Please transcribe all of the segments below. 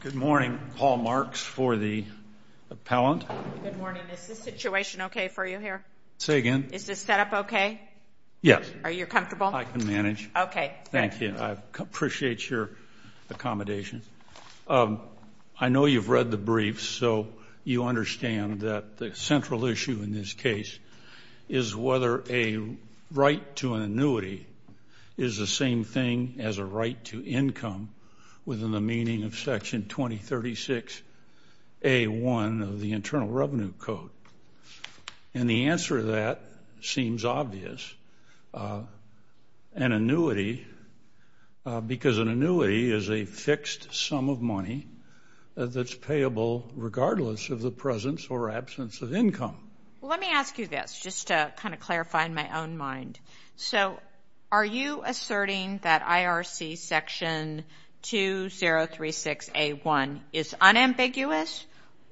Good morning. Paul Marks for the appellant. Good morning. Is this situation okay for you here? Say again? Is this setup okay? Yes. Are you comfortable? I can manage. Okay. Thank you. I appreciate your accommodation. I know you've read the briefs, so you understand that the central issue in this case is whether a right to an annuity is the same thing as a right to income. within the meaning of Section 2036A1 of the Internal Revenue Code. And the answer to that seems obvious. An annuity, because an annuity is a fixed sum of money that's payable regardless of the presence or absence of income. Let me ask you this, just to kind of clarify in my own mind. So are you asserting that IRC Section 2036A1 is unambiguous,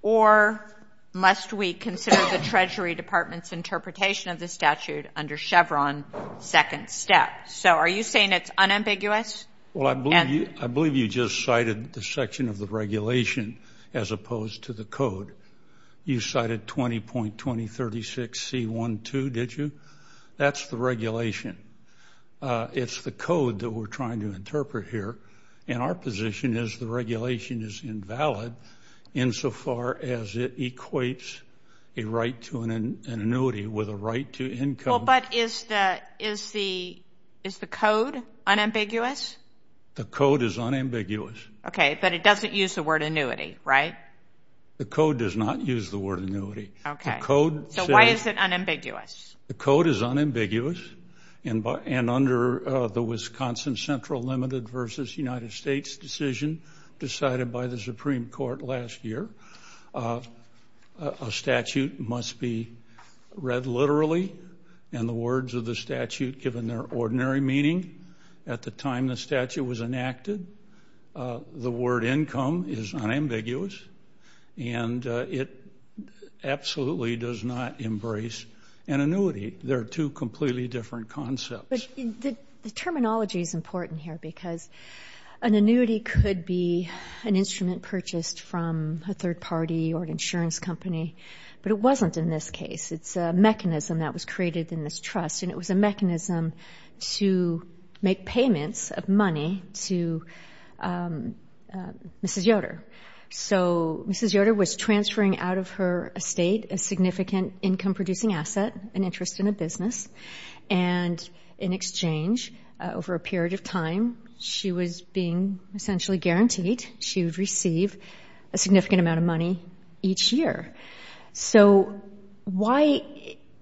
or must we consider the Treasury Department's interpretation of the statute under Chevron second step? So are you saying it's unambiguous? Well, I believe you just cited the section of the regulation as opposed to the code. You cited 20.2036C12, did you? That's the regulation. It's the code that we're trying to interpret here. And our position is the regulation is invalid insofar as it equates a right to an annuity with a right to income. Well, but is the code unambiguous? The code is unambiguous. Okay, but it doesn't use the word annuity, right? The code does not use the word annuity. Okay. So why is it unambiguous? The code is unambiguous. And under the Wisconsin Central Limited versus United States decision decided by the Supreme Court last year, a statute must be read literally and the words of the statute given their ordinary meaning at the time the statute was enacted. The word income is unambiguous, and it absolutely does not embrace an annuity. They're two completely different concepts. The terminology is important here because an annuity could be an instrument purchased from a third party or an insurance company, but it wasn't in this case. It's a mechanism that was created in this trust, and it was a mechanism to make payments of money to Mrs. Yoder. So Mrs. Yoder was transferring out of her estate a significant income-producing asset, an interest in a business, and in exchange, over a period of time, she was being essentially guaranteed she would receive a significant amount of money each year. So why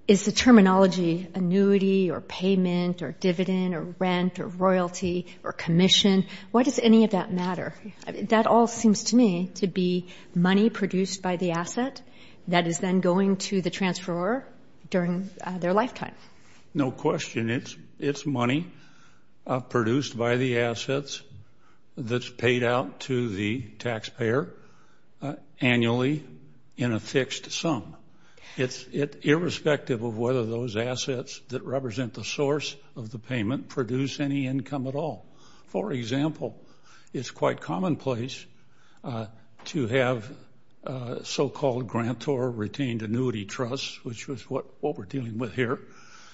is the terminology annuity or payment or dividend or rent or royalty or commission, why does any of that matter? That all seems to me to be money produced by the asset that is then going to the transferor during their lifetime. No question. It's money produced by the assets that's paid out to the taxpayer annually in a fixed sum. It's irrespective of whether those assets that represent the source of the payment produce any income at all. For example, it's quite commonplace to have so-called grantor-retained annuity trusts, which is what we're dealing with here,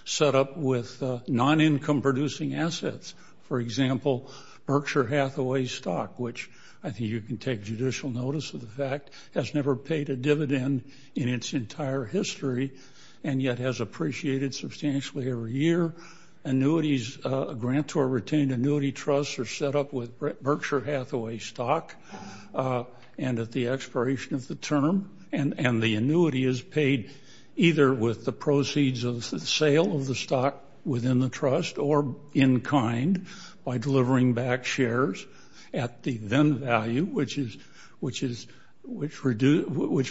set up with non-income-producing assets. For example, Berkshire Hathaway stock, which I think you can take judicial notice of the fact, has never paid a dividend in its entire history and yet has appreciated substantially every year. Annuities, grantor-retained annuity trusts are set up with Berkshire Hathaway stock and at the expiration of the term, and the annuity is paid either with the proceeds of the sale of the stock within the trust or in kind by delivering back shares at the then value, which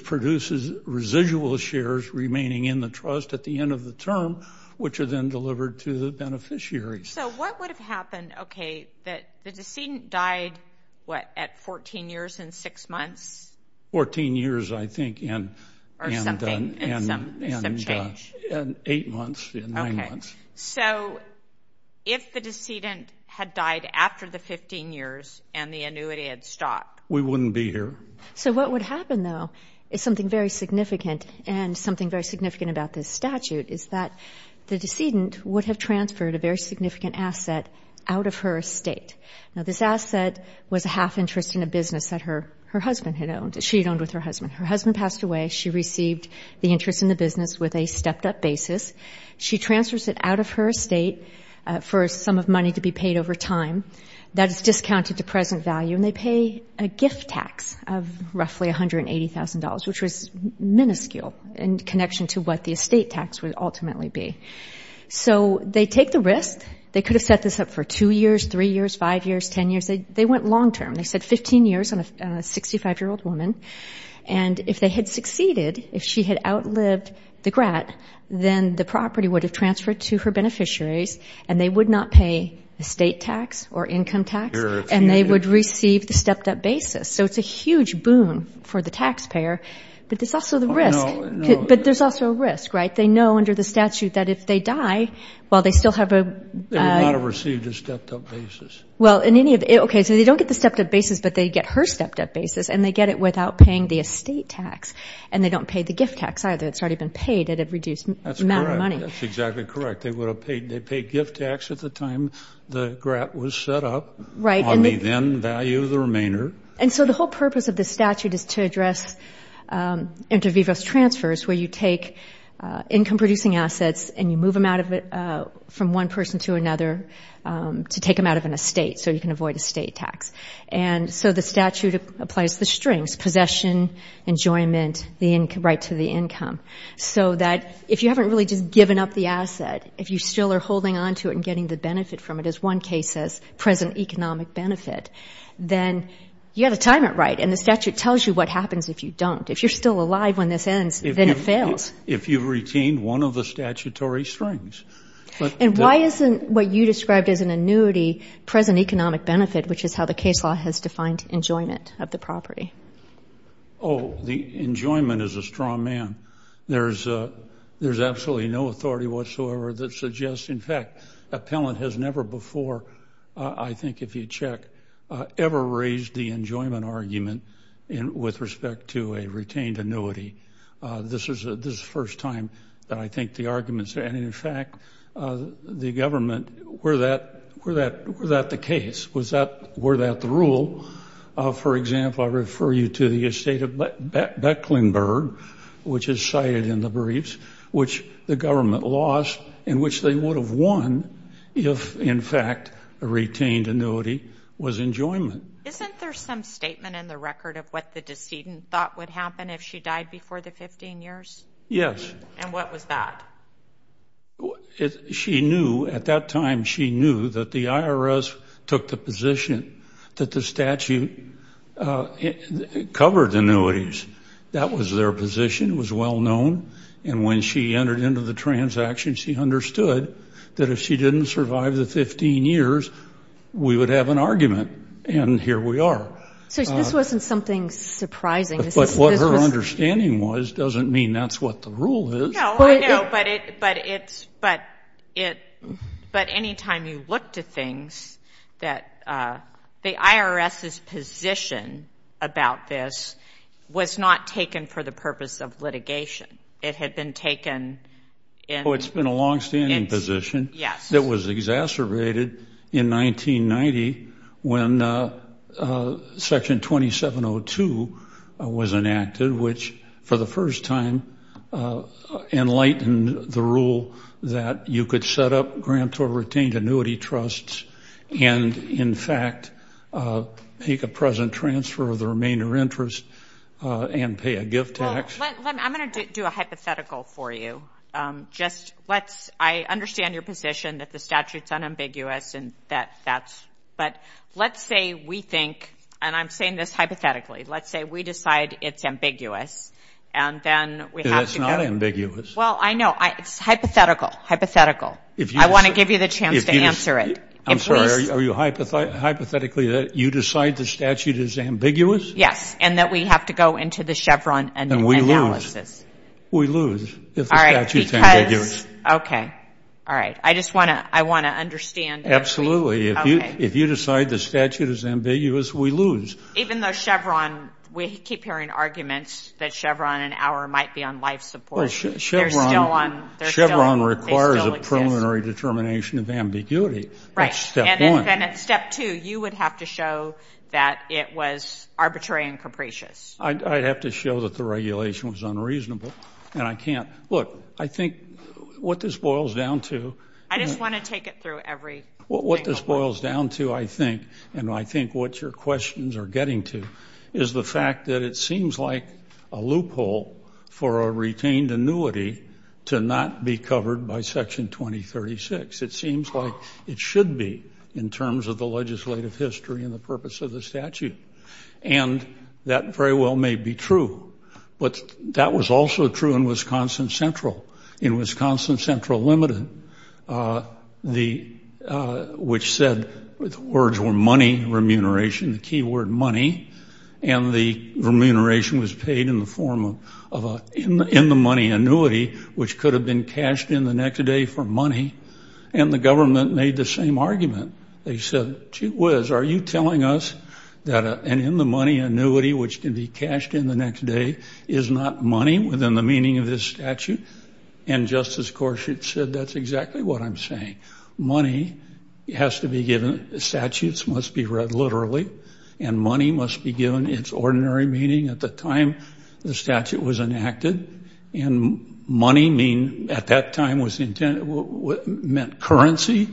produces residual shares remaining in the trust at the end of the term, which are then delivered to the beneficiaries. So what would have happened, okay, that the decedent died, what, at 14 years and six months? Fourteen years, I think. Or something, some change. And eight months and nine months. So if the decedent had died after the 15 years and the annuity had stopped? We wouldn't be here. So what would happen, though, is something very significant and something very significant about this statute is that the decedent would have transferred a very significant asset out of her estate. Now, this asset was a half interest in a business that her husband had owned, that she had owned with her husband. Her husband passed away. She received the interest in the business with a stepped-up basis. She transfers it out of her estate for a sum of money to be paid over time. That is discounted to present value, and they pay a gift tax of roughly $180,000, which was minuscule in connection to what the estate tax would ultimately be. So they take the risk. They could have set this up for two years, three years, five years, ten years. They went long term. They said 15 years on a 65-year-old woman. And if they had succeeded, if she had outlived the grant, then the property would have transferred to her beneficiaries, and they would not pay estate tax or income tax, and they would receive the stepped-up basis. So it's a huge boon for the taxpayer, but there's also the risk. But there's also a risk, right? They know under the statute that if they die, well, they still have a – They would not have received a stepped-up basis. Okay, so they don't get the stepped-up basis, but they get her stepped-up basis, and they get it without paying the estate tax, and they don't pay the gift tax either. It's already been paid at a reduced amount of money. That's correct. That's exactly correct. They would have paid gift tax at the time the grant was set up on the then value of the remainder. And so the whole purpose of the statute is to address inter vivos transfers, where you take income-producing assets and you move them out of it from one person to another, to take them out of an estate so you can avoid estate tax. And so the statute applies the strings, possession, enjoyment, the right to the income, so that if you haven't really just given up the asset, if you still are holding on to it and getting the benefit from it, as one case says, present economic benefit, then you have to time it right. And the statute tells you what happens if you don't. If you're still alive when this ends, then it fails. If you've retained one of the statutory strings. And why isn't what you described as an annuity present economic benefit, which is how the case law has defined enjoyment of the property? Oh, the enjoyment is a strong man. There's absolutely no authority whatsoever that suggests. In fact, appellant has never before, I think if you check, ever raised the enjoyment argument with respect to a retained annuity. This is the first time that I think the argument is there. And, in fact, the government, were that the case? Were that the rule? For example, I refer you to the estate of Becklenburg, which is cited in the briefs, which the government lost and which they would have won if, in fact, a retained annuity was enjoyment. Isn't there some statement in the record of what the decedent thought would happen if she died before the 15 years? Yes. And what was that? She knew at that time. She knew that the IRS took the position that the statute covered annuities. That was their position. It was well known. And when she entered into the transaction, she understood that if she didn't survive the 15 years, we would have an argument. And here we are. So this wasn't something surprising. But what her understanding was doesn't mean that's what the rule is. No, I know. But anytime you look to things that the IRS's position about this was not taken for the purpose of litigation. It had been taken in. Oh, it's been a longstanding position. Yes. It was exacerbated in 1990 when Section 2702 was enacted, which for the first time enlightened the rule that you could set up grant or retained annuity trusts and, in fact, make a present transfer of the remainder interest and pay a gift tax. I'm going to do a hypothetical for you. I understand your position that the statute's unambiguous. But let's say we think, and I'm saying this hypothetically, let's say we decide it's ambiguous and then we have to go. It's not ambiguous. Well, I know. It's hypothetical. Hypothetical. I want to give you the chance to answer it. I'm sorry. Are you hypothetically that you decide the statute is ambiguous? Yes. And that we have to go into the Chevron analysis. And we lose. We lose. All right. Because. Okay. All right. I just want to understand. Absolutely. Okay. If you decide the statute is ambiguous, we lose. Even though Chevron, we keep hearing arguments that Chevron and our might be on life support. They're still on. Chevron requires a preliminary determination of ambiguity. Right. That's step one. And then at step two, you would have to show that it was arbitrary and capricious. I'd have to show that the regulation was unreasonable. And I can't. Look, I think what this boils down to. I just want to take it through every. What this boils down to, I think, and I think what your questions are getting to is the fact that it seems like a loophole for a retained annuity to not be covered by section 2036. It seems like it should be in terms of the legislative history and the purpose of the statute. And that very well may be true. But that was also true in Wisconsin Central. In Wisconsin Central Limited, which said the words were money remuneration, the key word money, and the remuneration was paid in the form of an in the money annuity, which could have been cashed in the next day for money. And the government made the same argument. They said, gee whiz, are you telling us that an in the money annuity, which can be cashed in the next day, is not money within the meaning of this statute? And Justice Gorsuch said that's exactly what I'm saying. Money has to be given. Statutes must be read literally. And money must be given its ordinary meaning at the time the statute was enacted. And money at that time meant currency.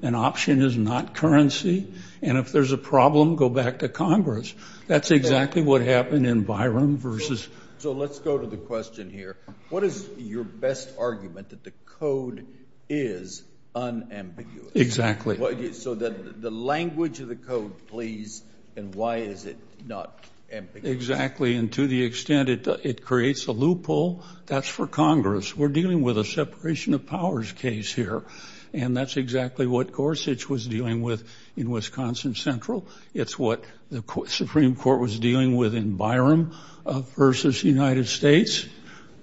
An option is not currency. And if there's a problem, go back to Congress. That's exactly what happened in Byron versus. So let's go to the question here. What is your best argument that the code is unambiguous? Exactly. So the language of the code, please, and why is it not ambiguous? Exactly. And to the extent it creates a loophole, that's for Congress. We're dealing with a separation of powers case here. And that's exactly what Gorsuch was dealing with in Wisconsin Central. It's what the Supreme Court was dealing with in Byron versus United States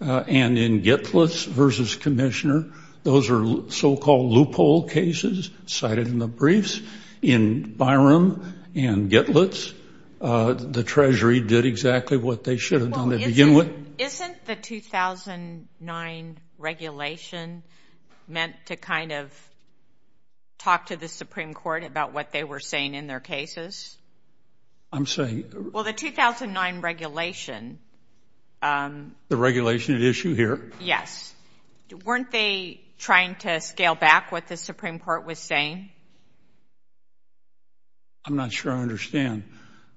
and in Gitlitz versus Commissioner. Those are so-called loophole cases cited in the briefs. In Byron and Gitlitz, the Treasury did exactly what they should have done to begin with. Isn't the 2009 regulation meant to kind of talk to the Supreme Court about what they were saying in their cases? I'm sorry? Well, the 2009 regulation. The regulation at issue here? Yes. Weren't they trying to scale back what the Supreme Court was saying? I'm not sure I understand.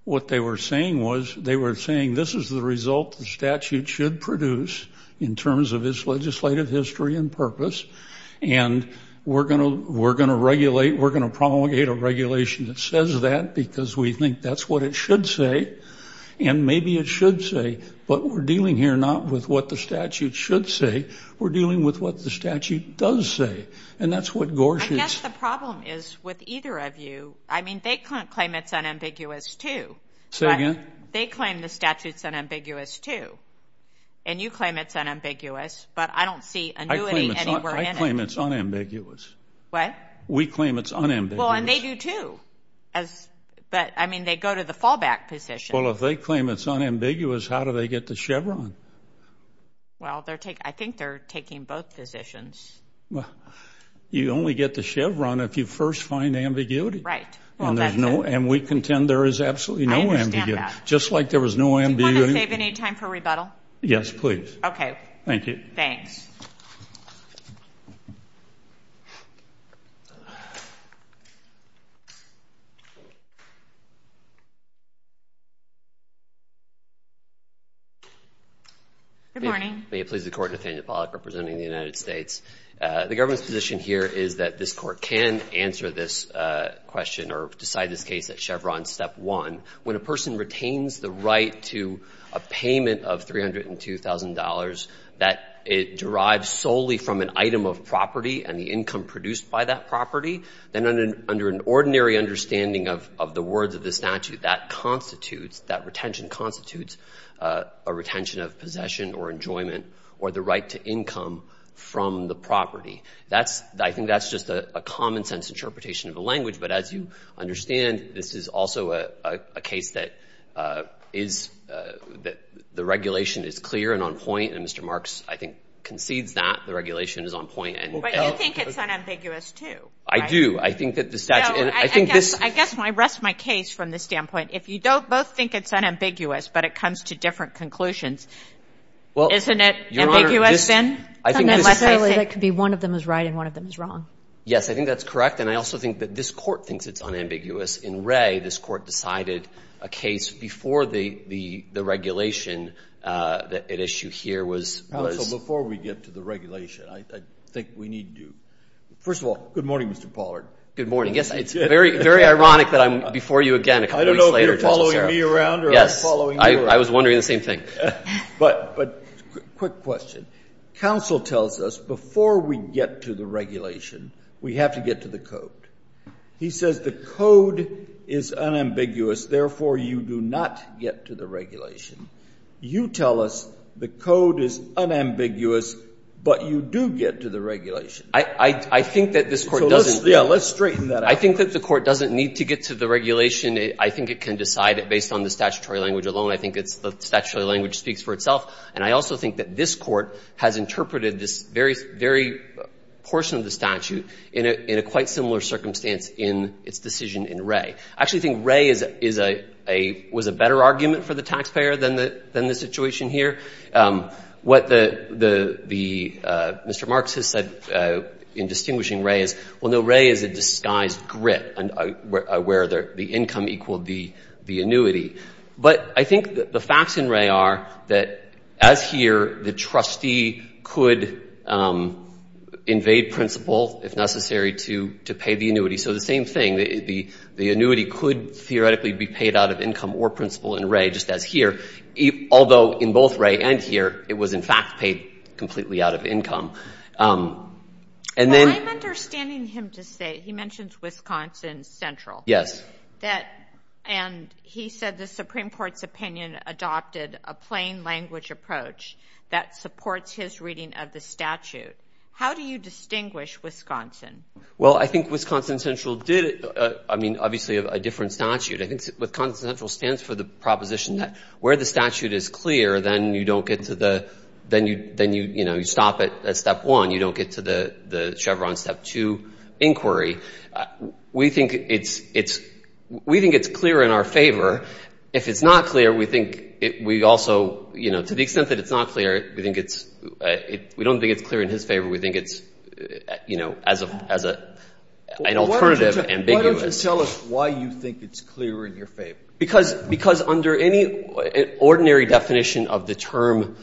What they were saying was they were saying this is the result the statute should produce in terms of its legislative history and purpose, and we're going to promulgate a regulation that says that because we think that's what it should say, and maybe it should say. But we're dealing here not with what the statute should say. We're dealing with what the statute does say, and that's what Gorsuch said. I guess the problem is with either of you. I mean, they claim it's unambiguous, too. Say again? They claim the statute's unambiguous, too. And you claim it's unambiguous, but I don't see annuity anywhere in it. I claim it's unambiguous. What? We claim it's unambiguous. Well, and they do, too. But, I mean, they go to the fallback position. Well, if they claim it's unambiguous, how do they get the Chevron? Well, I think they're taking both positions. You only get the Chevron if you first find ambiguity. Right. And we contend there is absolutely no ambiguity. I understand that. Just like there was no ambiguity. Do you want to save any time for rebuttal? Yes, please. Okay. Thank you. Thanks. Good morning. May it please the Court, Nathaniel Pollack representing the United States. The government's position here is that this Court can answer this question or decide this case at Chevron Step 1. When a person retains the right to a payment of $302,000 that it derives solely from an item of property and the income produced by that property, then under an ordinary understanding of the words of the statute, that constitutes, that retention constitutes a retention of possession or enjoyment or the right to income from the property. I think that's just a common sense interpretation of the language. But as you understand, this is also a case that the regulation is clear and on point, and Mr. Marks, I think, concedes that the regulation is on point. But you think it's unambiguous, too. I do. I think that the statute – I guess when I rest my case from this standpoint, if you both think it's unambiguous but it comes to different conclusions, isn't it ambiguous then? Unless I say that could be one of them is right and one of them is wrong. Yes. I think that's correct. And I also think that this Court thinks it's unambiguous. In Wray, this Court decided a case before the regulation. The issue here was – So before we get to the regulation, I think we need to – first of all, good morning, Mr. Pollard. Good morning. Yes, it's very ironic that I'm before you again a couple weeks later. I don't know if you're following me around or I'm following you around. Yes. I was wondering the same thing. But quick question. Counsel tells us before we get to the regulation, we have to get to the code. He says the code is unambiguous, therefore you do not get to the regulation. I think that this Court doesn't – Let's straighten that out. I think that the Court doesn't need to get to the regulation. I think it can decide it based on the statutory language alone. I think it's the statutory language speaks for itself. And I also think that this Court has interpreted this very, very portion of the statute in a quite similar circumstance in its decision in Wray. I actually think Wray is a – was a better argument for the taxpayer than the situation here. What the – Mr. Marks has said in distinguishing Wray is, well, no, Wray is a disguised grit where the income equaled the annuity. But I think the facts in Wray are that, as here, the trustee could invade principal if necessary to pay the annuity. So the same thing. The annuity could theoretically be paid out of income or principal in Wray, just as here, although in both Wray and here, it was, in fact, paid completely out of income. And then – Well, I'm understanding him to say – he mentions Wisconsin Central. Yes. That – and he said the Supreme Court's opinion adopted a plain language approach that supports his reading of the statute. How do you distinguish Wisconsin? Well, I think Wisconsin Central did – I mean, obviously, a different statute. I think Wisconsin Central stands for the proposition that where the statute is clear, then you don't get to the – then you – you know, you stop at step one. You don't get to the Chevron step two inquiry. We think it's – we think it's clear in our favor. If it's not clear, we think we also – you know, to the extent that it's not clear, we think it's – we don't think it's clear in his favor. We think it's, you know, as an alternative. Why don't you tell us why you think it's clear in your favor? Because under any ordinary definition of the term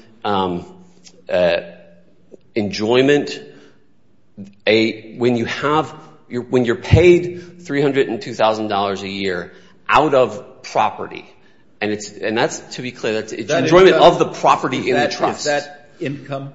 enjoyment, when you have – when you're paid $302,000 a year out of property, and it's – and that's, to be clear, that's enjoyment of the property in the trust. Is that income?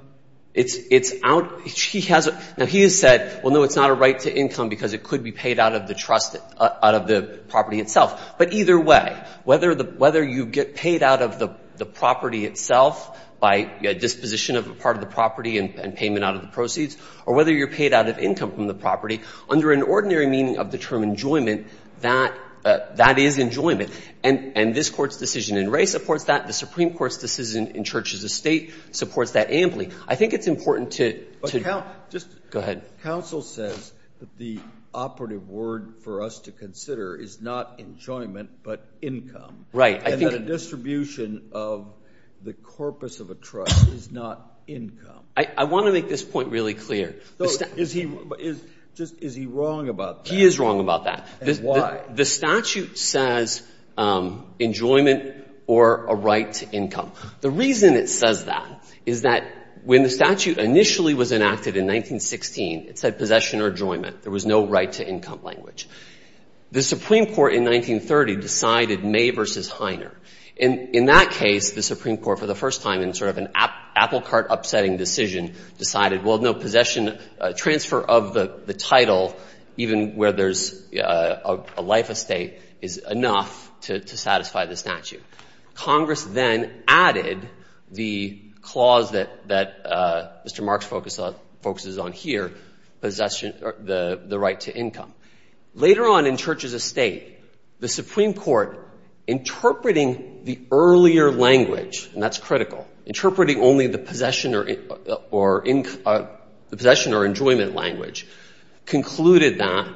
It's out – he has – now, he has said, well, no, it's not a right to income because it could be paid out of the trust – out of the property itself. But either way, whether the – whether you get paid out of the property itself by disposition of a part of the property and payment out of the proceeds, or whether you're paid out of income from the property, under an ordinary meaning of the term enjoyment, that – that is enjoyment. And this Court's decision in Ray supports that. The Supreme Court's decision in Church's estate supports that amply. I think it's important to – to – But, Counsel – Go ahead. Counsel says that the operative word for us to consider is not enjoyment but income. Right. And that a distribution of the corpus of a trust is not income. I want to make this point really clear. Is he – is – just – is he wrong about that? He is wrong about that. And why? The statute says enjoyment or a right to income. The reason it says that is that when the statute initially was enacted in 1916, it said possession or enjoyment. There was no right to income language. The Supreme Court in 1930 decided May v. Heiner. And in that case, the Supreme Court, for the first time, in sort of an apple cart upsetting decision, decided, well, no, possession – transfer of the – the title, even where there's a life estate, is enough to – to satisfy the statute. Congress then added the clause that – that Mr. Marks focuses on here, possession – the right to income. Later on in Churches of State, the Supreme Court, interpreting the earlier language – and that's critical – interpreting only the possession or – or – the possession or enjoyment language, concluded that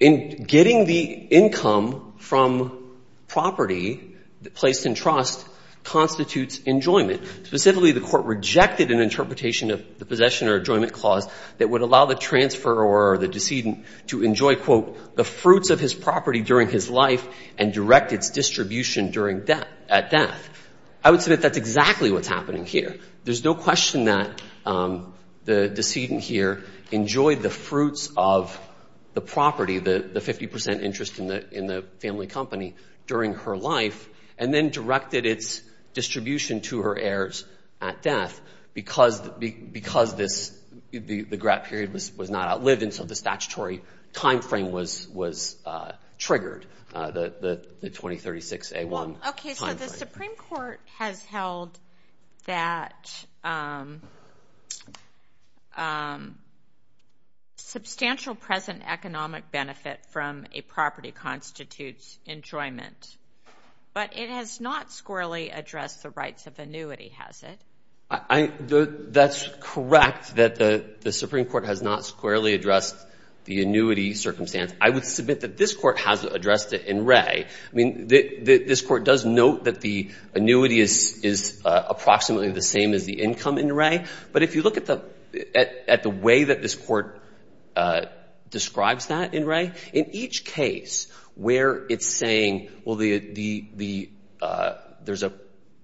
in getting the income from property placed in trust constitutes enjoyment. Specifically, the Court rejected an interpretation of the possession or enjoyment clause that would allow the transferor or the decedent to enjoy, quote, the fruits of his property during his life and direct its distribution during death – at death. I would submit that's exactly what's happening here. There's no question that the decedent here enjoyed the fruits of the property, the – the 50 percent interest in the – in the family company during her life and then directed its distribution to her heirs at death because – because this – the – the grant period was – was not outlived and so the statutory timeframe was – was triggered, the – the 2036A1 timeframe. Okay, so the Supreme Court has held that substantial present economic benefit from a property constitutes enjoyment. But it has not squarely addressed the rights of annuity, has it? I – that's correct that the Supreme Court has not squarely addressed the annuity circumstance. I mean, this Court does note that the annuity is – is approximately the same as the income in Rea. But if you look at the – at the way that this Court describes that in Rea, in each case where it's saying, well, the – the – there's an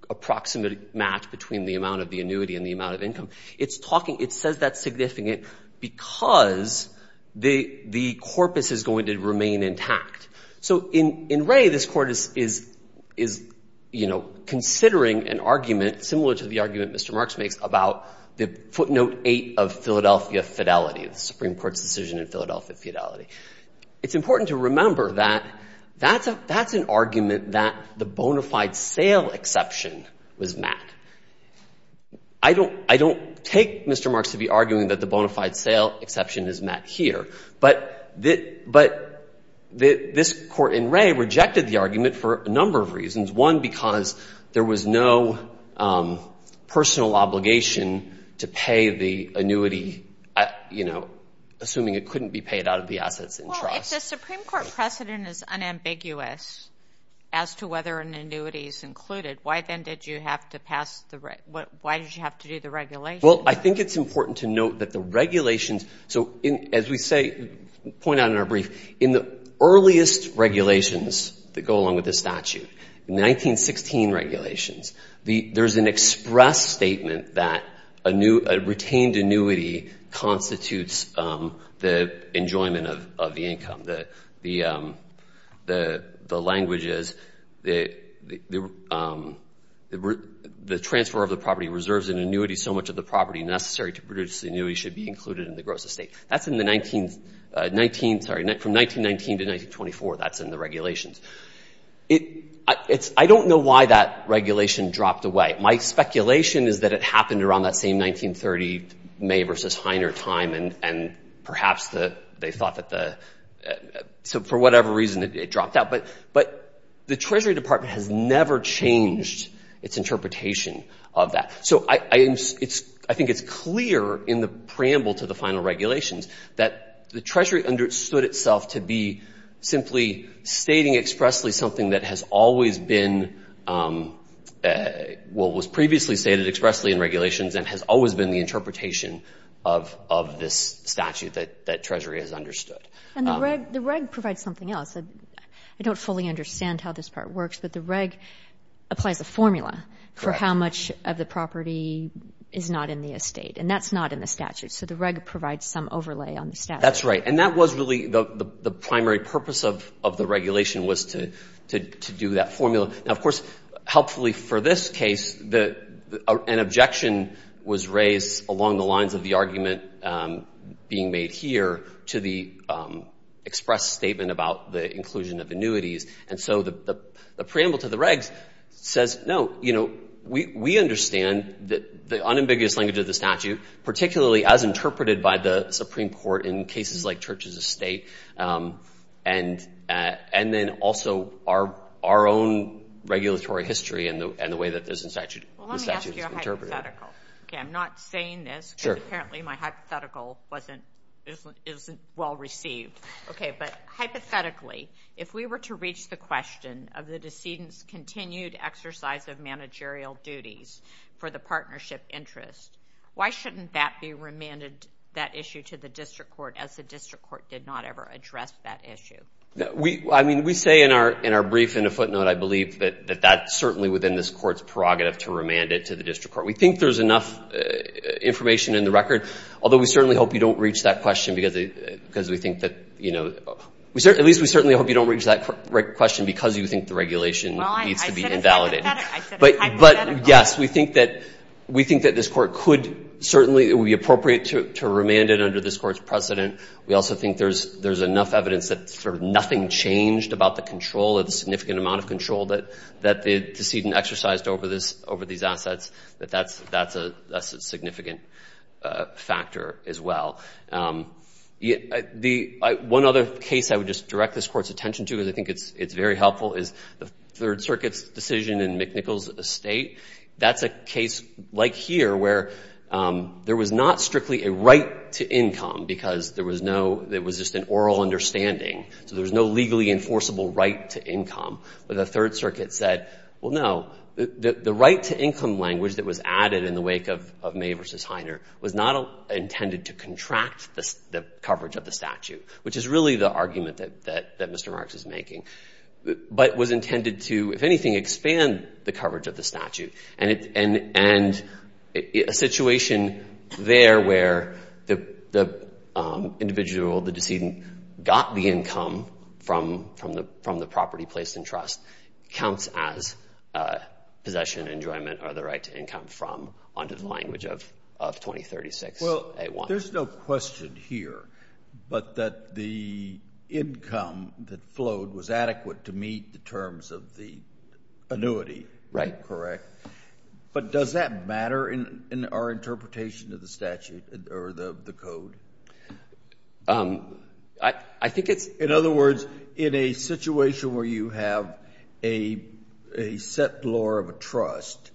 approximate match between the amount of the annuity and the amount of income, it's talking – it says that's significant because the – the corpus is going to remain intact. So in – in Rea, this Court is – is, you know, considering an argument similar to the argument Mr. Marks makes about the footnote eight of Philadelphia fidelity, the Supreme Court's decision in Philadelphia fidelity. It's important to remember that that's a – that's an argument that the bona fide sale exception was met. I don't – I don't take Mr. Marks to be arguing that the bona fide sale exception is met here. But – but this Court in Rea rejected the argument for a number of reasons. One, because there was no personal obligation to pay the annuity, you know, assuming it couldn't be paid out of the assets in trust. Well, if the Supreme Court precedent is unambiguous as to whether an annuity is included, why then did you have to pass the – why did you have to do the regulation? Well, I think it's important to note that the regulations – so as we say – point out in our brief, in the earliest regulations that go along with the statute, in the 1916 regulations, there's an express statement that a new – a retained annuity constitutes the enjoyment of the income. The – the language is the transfer of the property reserves and annuity should be so much of the property necessary to produce the annuity should be included in the gross estate. That's in the 19 – 19 – sorry, from 1919 to 1924, that's in the regulations. It – it's – I don't know why that regulation dropped away. My speculation is that it happened around that same 1930 May versus Heiner time, and perhaps the – they thought that the – so for whatever reason, it dropped out. But – but the Treasury Department has never changed its interpretation of that. So I – it's – I think it's clear in the preamble to the final regulations that the Treasury understood itself to be simply stating expressly something that has always been – well, was previously stated expressly in regulations and has always been the interpretation of – of this statute that Treasury has understood. And the reg – the reg provides something else. I don't fully understand how this part works, but the reg applies a formula for how much of the property is not in the estate, and that's not in the statute. So the reg provides some overlay on the statute. That's right, and that was really – the primary purpose of the regulation was to do that formula. Now, of course, helpfully for this case, an objection was raised along the lines of the argument being made here to the express statement about the inclusion of annuities. And so the preamble to the regs says, no, you know, we understand the unambiguous language of the statute, particularly as interpreted by the Supreme Court in cases like churches of state, and then also our own regulatory history and the way that this statute is interpreted. Well, let me ask you a hypothetical. Okay, I'm not saying this. Sure. Because apparently my hypothetical wasn't – isn't well received. Okay, but hypothetically, if we were to reach the question of the decedent's continued exercise of managerial duties for the partnership interest, why shouldn't that be remanded, that issue, to the district court as the district court did not ever address that issue? I mean, we say in our brief in a footnote, I believe, that that's certainly within this court's prerogative to remand it to the district court. We think there's enough information in the record, although we certainly hope you don't reach that question because we think that, you know, at least we certainly hope you don't reach that question because you think the regulation needs to be invalidated. Well, I said a hypothetical. But, yes, we think that this court could certainly – it would be appropriate to remand it under this court's precedent. We also think there's enough evidence that sort of nothing changed about the control or the significant amount of control that the decedent exercised over these assets that that's a significant factor as well. One other case I would just direct this court's attention to, because I think it's very helpful, is the Third Circuit's decision in McNicol's estate. That's a case like here where there was not strictly a right to income because there was no – it was just an oral understanding. So there was no legally enforceable right to income. But the Third Circuit said, well, no, the right to income language that was added in the wake of May v. Heiner was not intended to contract the coverage of the statute, which is really the argument that Mr. Marks is making, but was intended to, if anything, expand the coverage of the statute. And a situation there where the individual, the decedent, got the income from the property placed in trust counts as possession, enjoyment, or the right to income from under the language of 2036A1. Well, there's no question here but that the income that flowed was adequate to meet the terms of the annuity, correct? Right. But does that matter in our interpretation of the statute or the code? I think it's – In other words, in a situation where you have a set law of a trust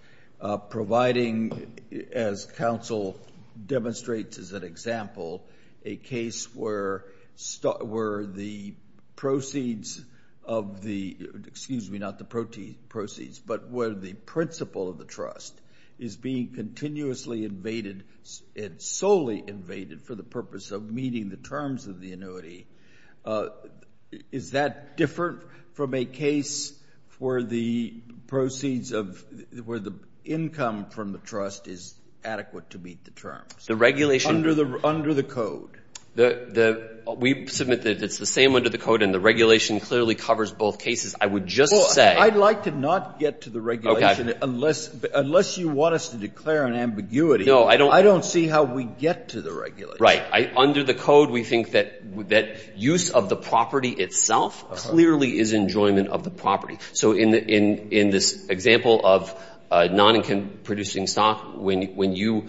providing, as counsel demonstrates as an example, a case where the proceeds of the – excuse me, not the proceeds, but where the principle of the trust is being terms of the annuity, is that different from a case where the proceeds of – where the income from the trust is adequate to meet the terms? The regulation – Under the code. We submit that it's the same under the code, and the regulation clearly covers both cases. I would just say – Well, I'd like to not get to the regulation unless you want us to declare an ambiguity. No, I don't – I don't see how we get to the regulation. Right. Under the code, we think that use of the property itself clearly is enjoyment of the property. So in this example of non-income-producing stock, when you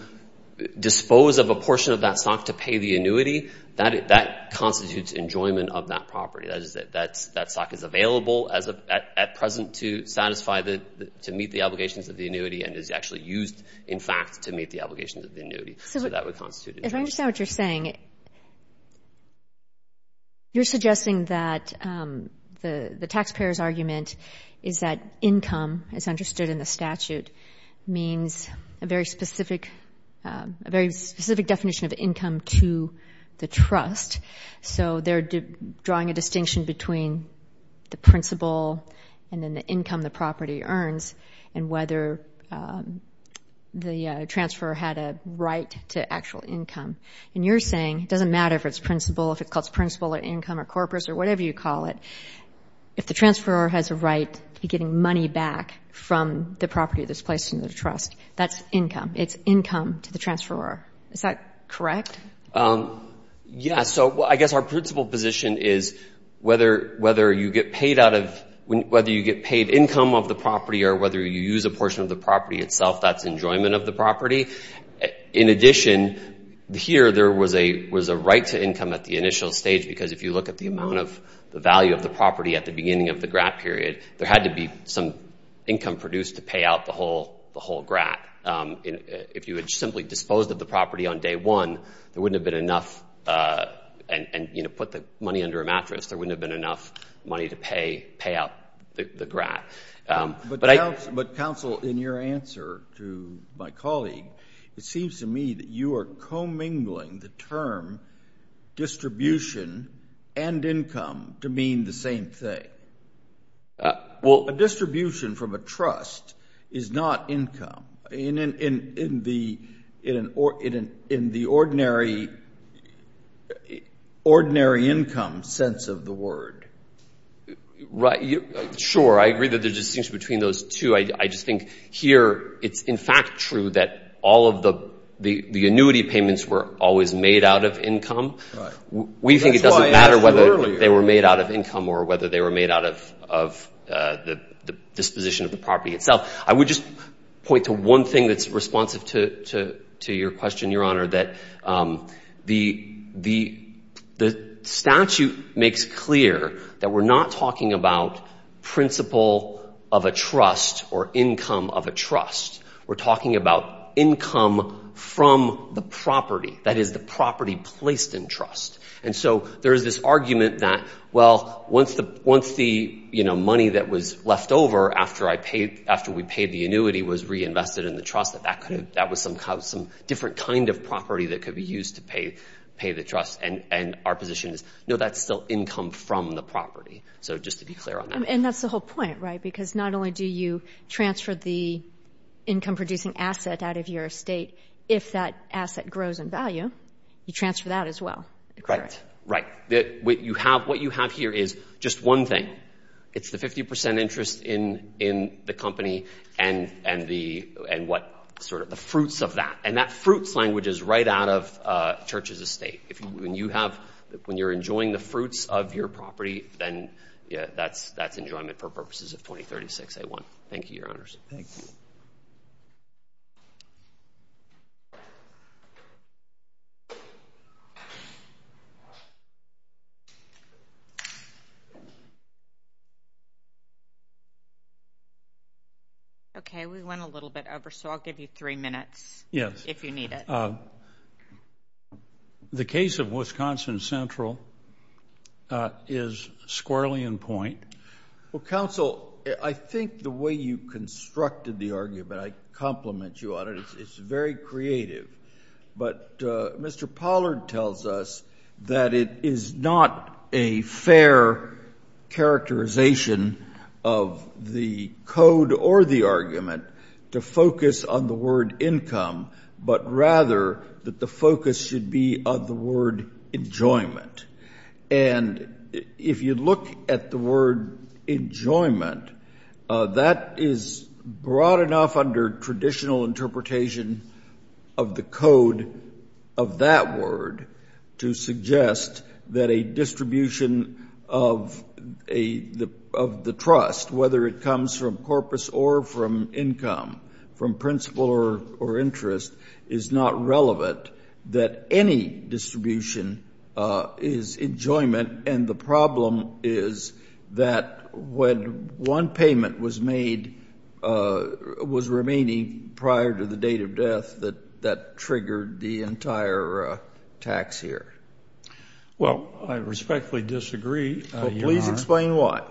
dispose of a portion of that stock to pay the annuity, that constitutes enjoyment of that property. That stock is available at present to satisfy the – to meet the obligations of the annuity and is actually used, in fact, to meet the obligations of the annuity. So that would constitute enjoyment. If I understand what you're saying, you're suggesting that the taxpayer's argument is that income, as understood in the statute, means a very specific definition of income to the trust. So they're drawing a distinction between the principal and then the income the property earns and whether the transferor had a right to actual income. And you're saying it doesn't matter if it's principal, if it's called principal or income or corpus or whatever you call it, if the transferor has a right to be getting money back from the property that's placed into the trust, that's income. It's income to the transferor. Is that correct? Yes. So I guess our principal position is whether you get paid out of – or whether you use a portion of the property itself, that's enjoyment of the property. In addition, here there was a right to income at the initial stage because if you look at the amount of the value of the property at the beginning of the grant period, there had to be some income produced to pay out the whole grant. If you had simply disposed of the property on day one, there wouldn't have been enough – and put the money under a mattress, there wouldn't have been enough money to pay out the grant. But, counsel, in your answer to my colleague, it seems to me that you are commingling the term distribution and income to mean the same thing. A distribution from a trust is not income in the ordinary income sense of the word. Sure. I agree that there's a distinction between those two. I just think here it's in fact true that all of the annuity payments were always made out of income. We think it doesn't matter whether they were made out of income or whether they were made out of the disposition of the property itself. I would just point to one thing that's responsive to your question, Your Honor, that the statute makes clear that we're not talking about principle of a trust or income of a trust. We're talking about income from the property, that is, the property placed in trust. And so there is this argument that, well, once the money that was left over after we paid the annuity was reinvested in the trust, that that was some different kind of property that could be used to pay the trust. And our position is, no, that's still income from the property. So just to be clear on that. And that's the whole point, right? Because not only do you transfer the income-producing asset out of your estate, if that asset grows in value, you transfer that as well. Correct. Right. What you have here is just one thing. It's the 50% interest in the company and the fruits of that. And that fruits language is right out of Church's estate. When you're enjoying the fruits of your property, then that's enjoyment for purposes of 2036A1. Thank you, Your Honors. Thank you. Okay. We went a little bit over, so I'll give you three minutes if you need it. Yes. The case of Wisconsin Central is squirrelly in point. Well, counsel, I think the way you constructed the argument, I compliment you on it. It's very creative. But Mr. Pollard tells us that it is not a fair characterization of the code or the argument to focus on the word income, but rather that the focus should be on the word enjoyment. And if you look at the word enjoyment, that is broad enough under traditional interpretation of the code of that word to suggest that a distribution of the trust, whether it comes from corpus or from income, from principle or interest, is not relevant, that any distribution is enjoyment. And the problem is that when one payment was made, was remaining prior to the date of death, that triggered the entire tax year. Well, I respectfully disagree, Your Honor. Well, please explain why.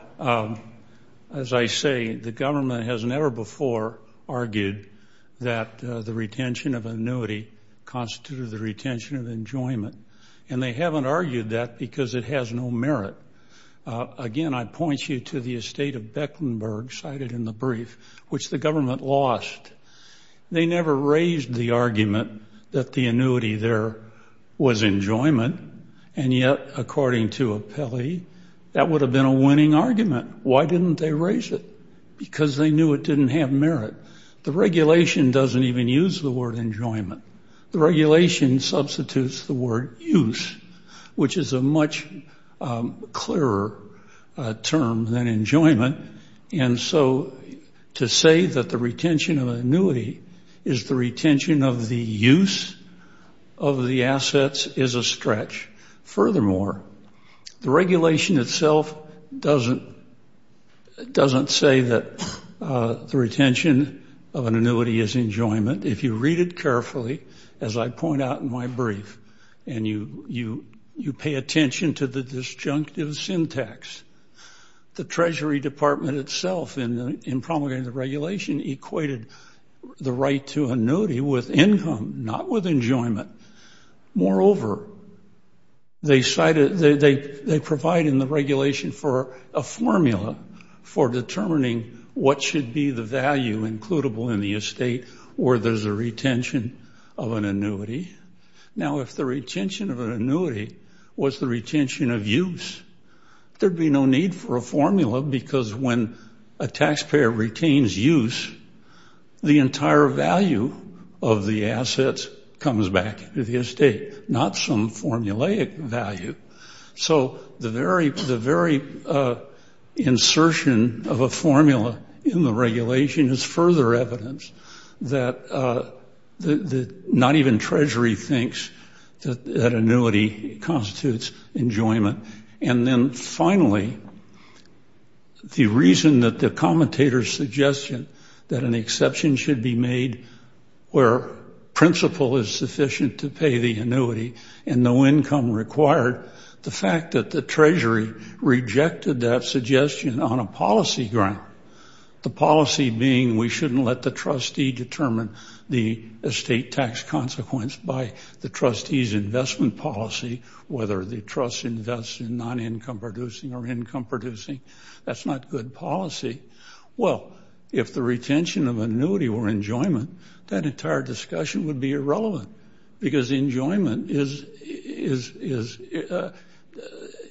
As I say, the government has never before argued that the retention of annuity constituted the retention of enjoyment. And they haven't argued that because it has no merit. Again, I point you to the estate of Beckenberg cited in the brief, which the government lost. They never raised the argument that the annuity there was enjoyment. And yet, according to Appelli, that would have been a winning argument. Why didn't they raise it? Because they knew it didn't have merit. The regulation doesn't even use the word enjoyment. The regulation substitutes the word use, which is a much clearer term than enjoyment. And so to say that the retention of annuity is the retention of the use of the assets is a stretch. Furthermore, the regulation itself doesn't say that the retention of an annuity is enjoyment. If you read it carefully, as I point out in my brief, and you pay attention to the disjunctive syntax, the Treasury Department itself in promulgating the regulation equated the right to annuity with income, not with enjoyment. Moreover, they provided in the regulation for a formula for determining what should be the value in the estate where there's a retention of an annuity. Now, if the retention of an annuity was the retention of use, there'd be no need for a formula because when a taxpayer retains use, the entire value of the assets comes back to the estate, not some formulaic value. So the very insertion of a formula in the regulation is further evidence that not even Treasury thinks that annuity constitutes enjoyment. And then finally, the reason that the commentator's suggestion that an exception should be made where principle is sufficient to pay the annuity and no income required, the fact that the Treasury rejected that suggestion on a policy ground, the policy being we shouldn't let the trustee determine the estate tax consequence by the trustee's investment policy, whether the trust invests in non-income producing or income producing. That's not good policy. Well, if the retention of annuity were enjoyment, that entire discussion would be irrelevant because enjoyment is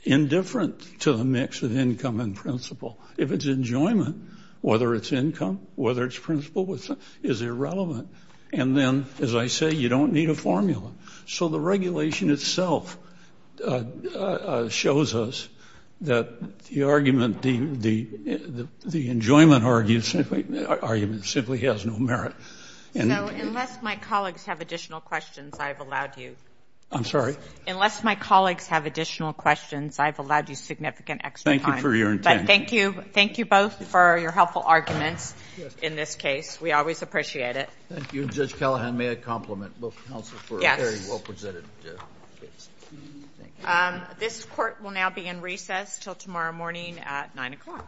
indifferent to the mix of income and principle. If it's enjoyment, whether it's income, whether it's principle, is irrelevant. And then, as I say, you don't need a formula. So the regulation itself shows us that the enjoyment argument simply has no merit. So unless my colleagues have additional questions, I've allowed you. I'm sorry? Unless my colleagues have additional questions, I've allowed you significant extra time. Thank you for your intent. But thank you both for your helpful arguments in this case. We always appreciate it. Thank you. Judge Callahan, may I compliment both counsel for a very well presented case? This court will now be in recess until tomorrow morning at 9 o'clock.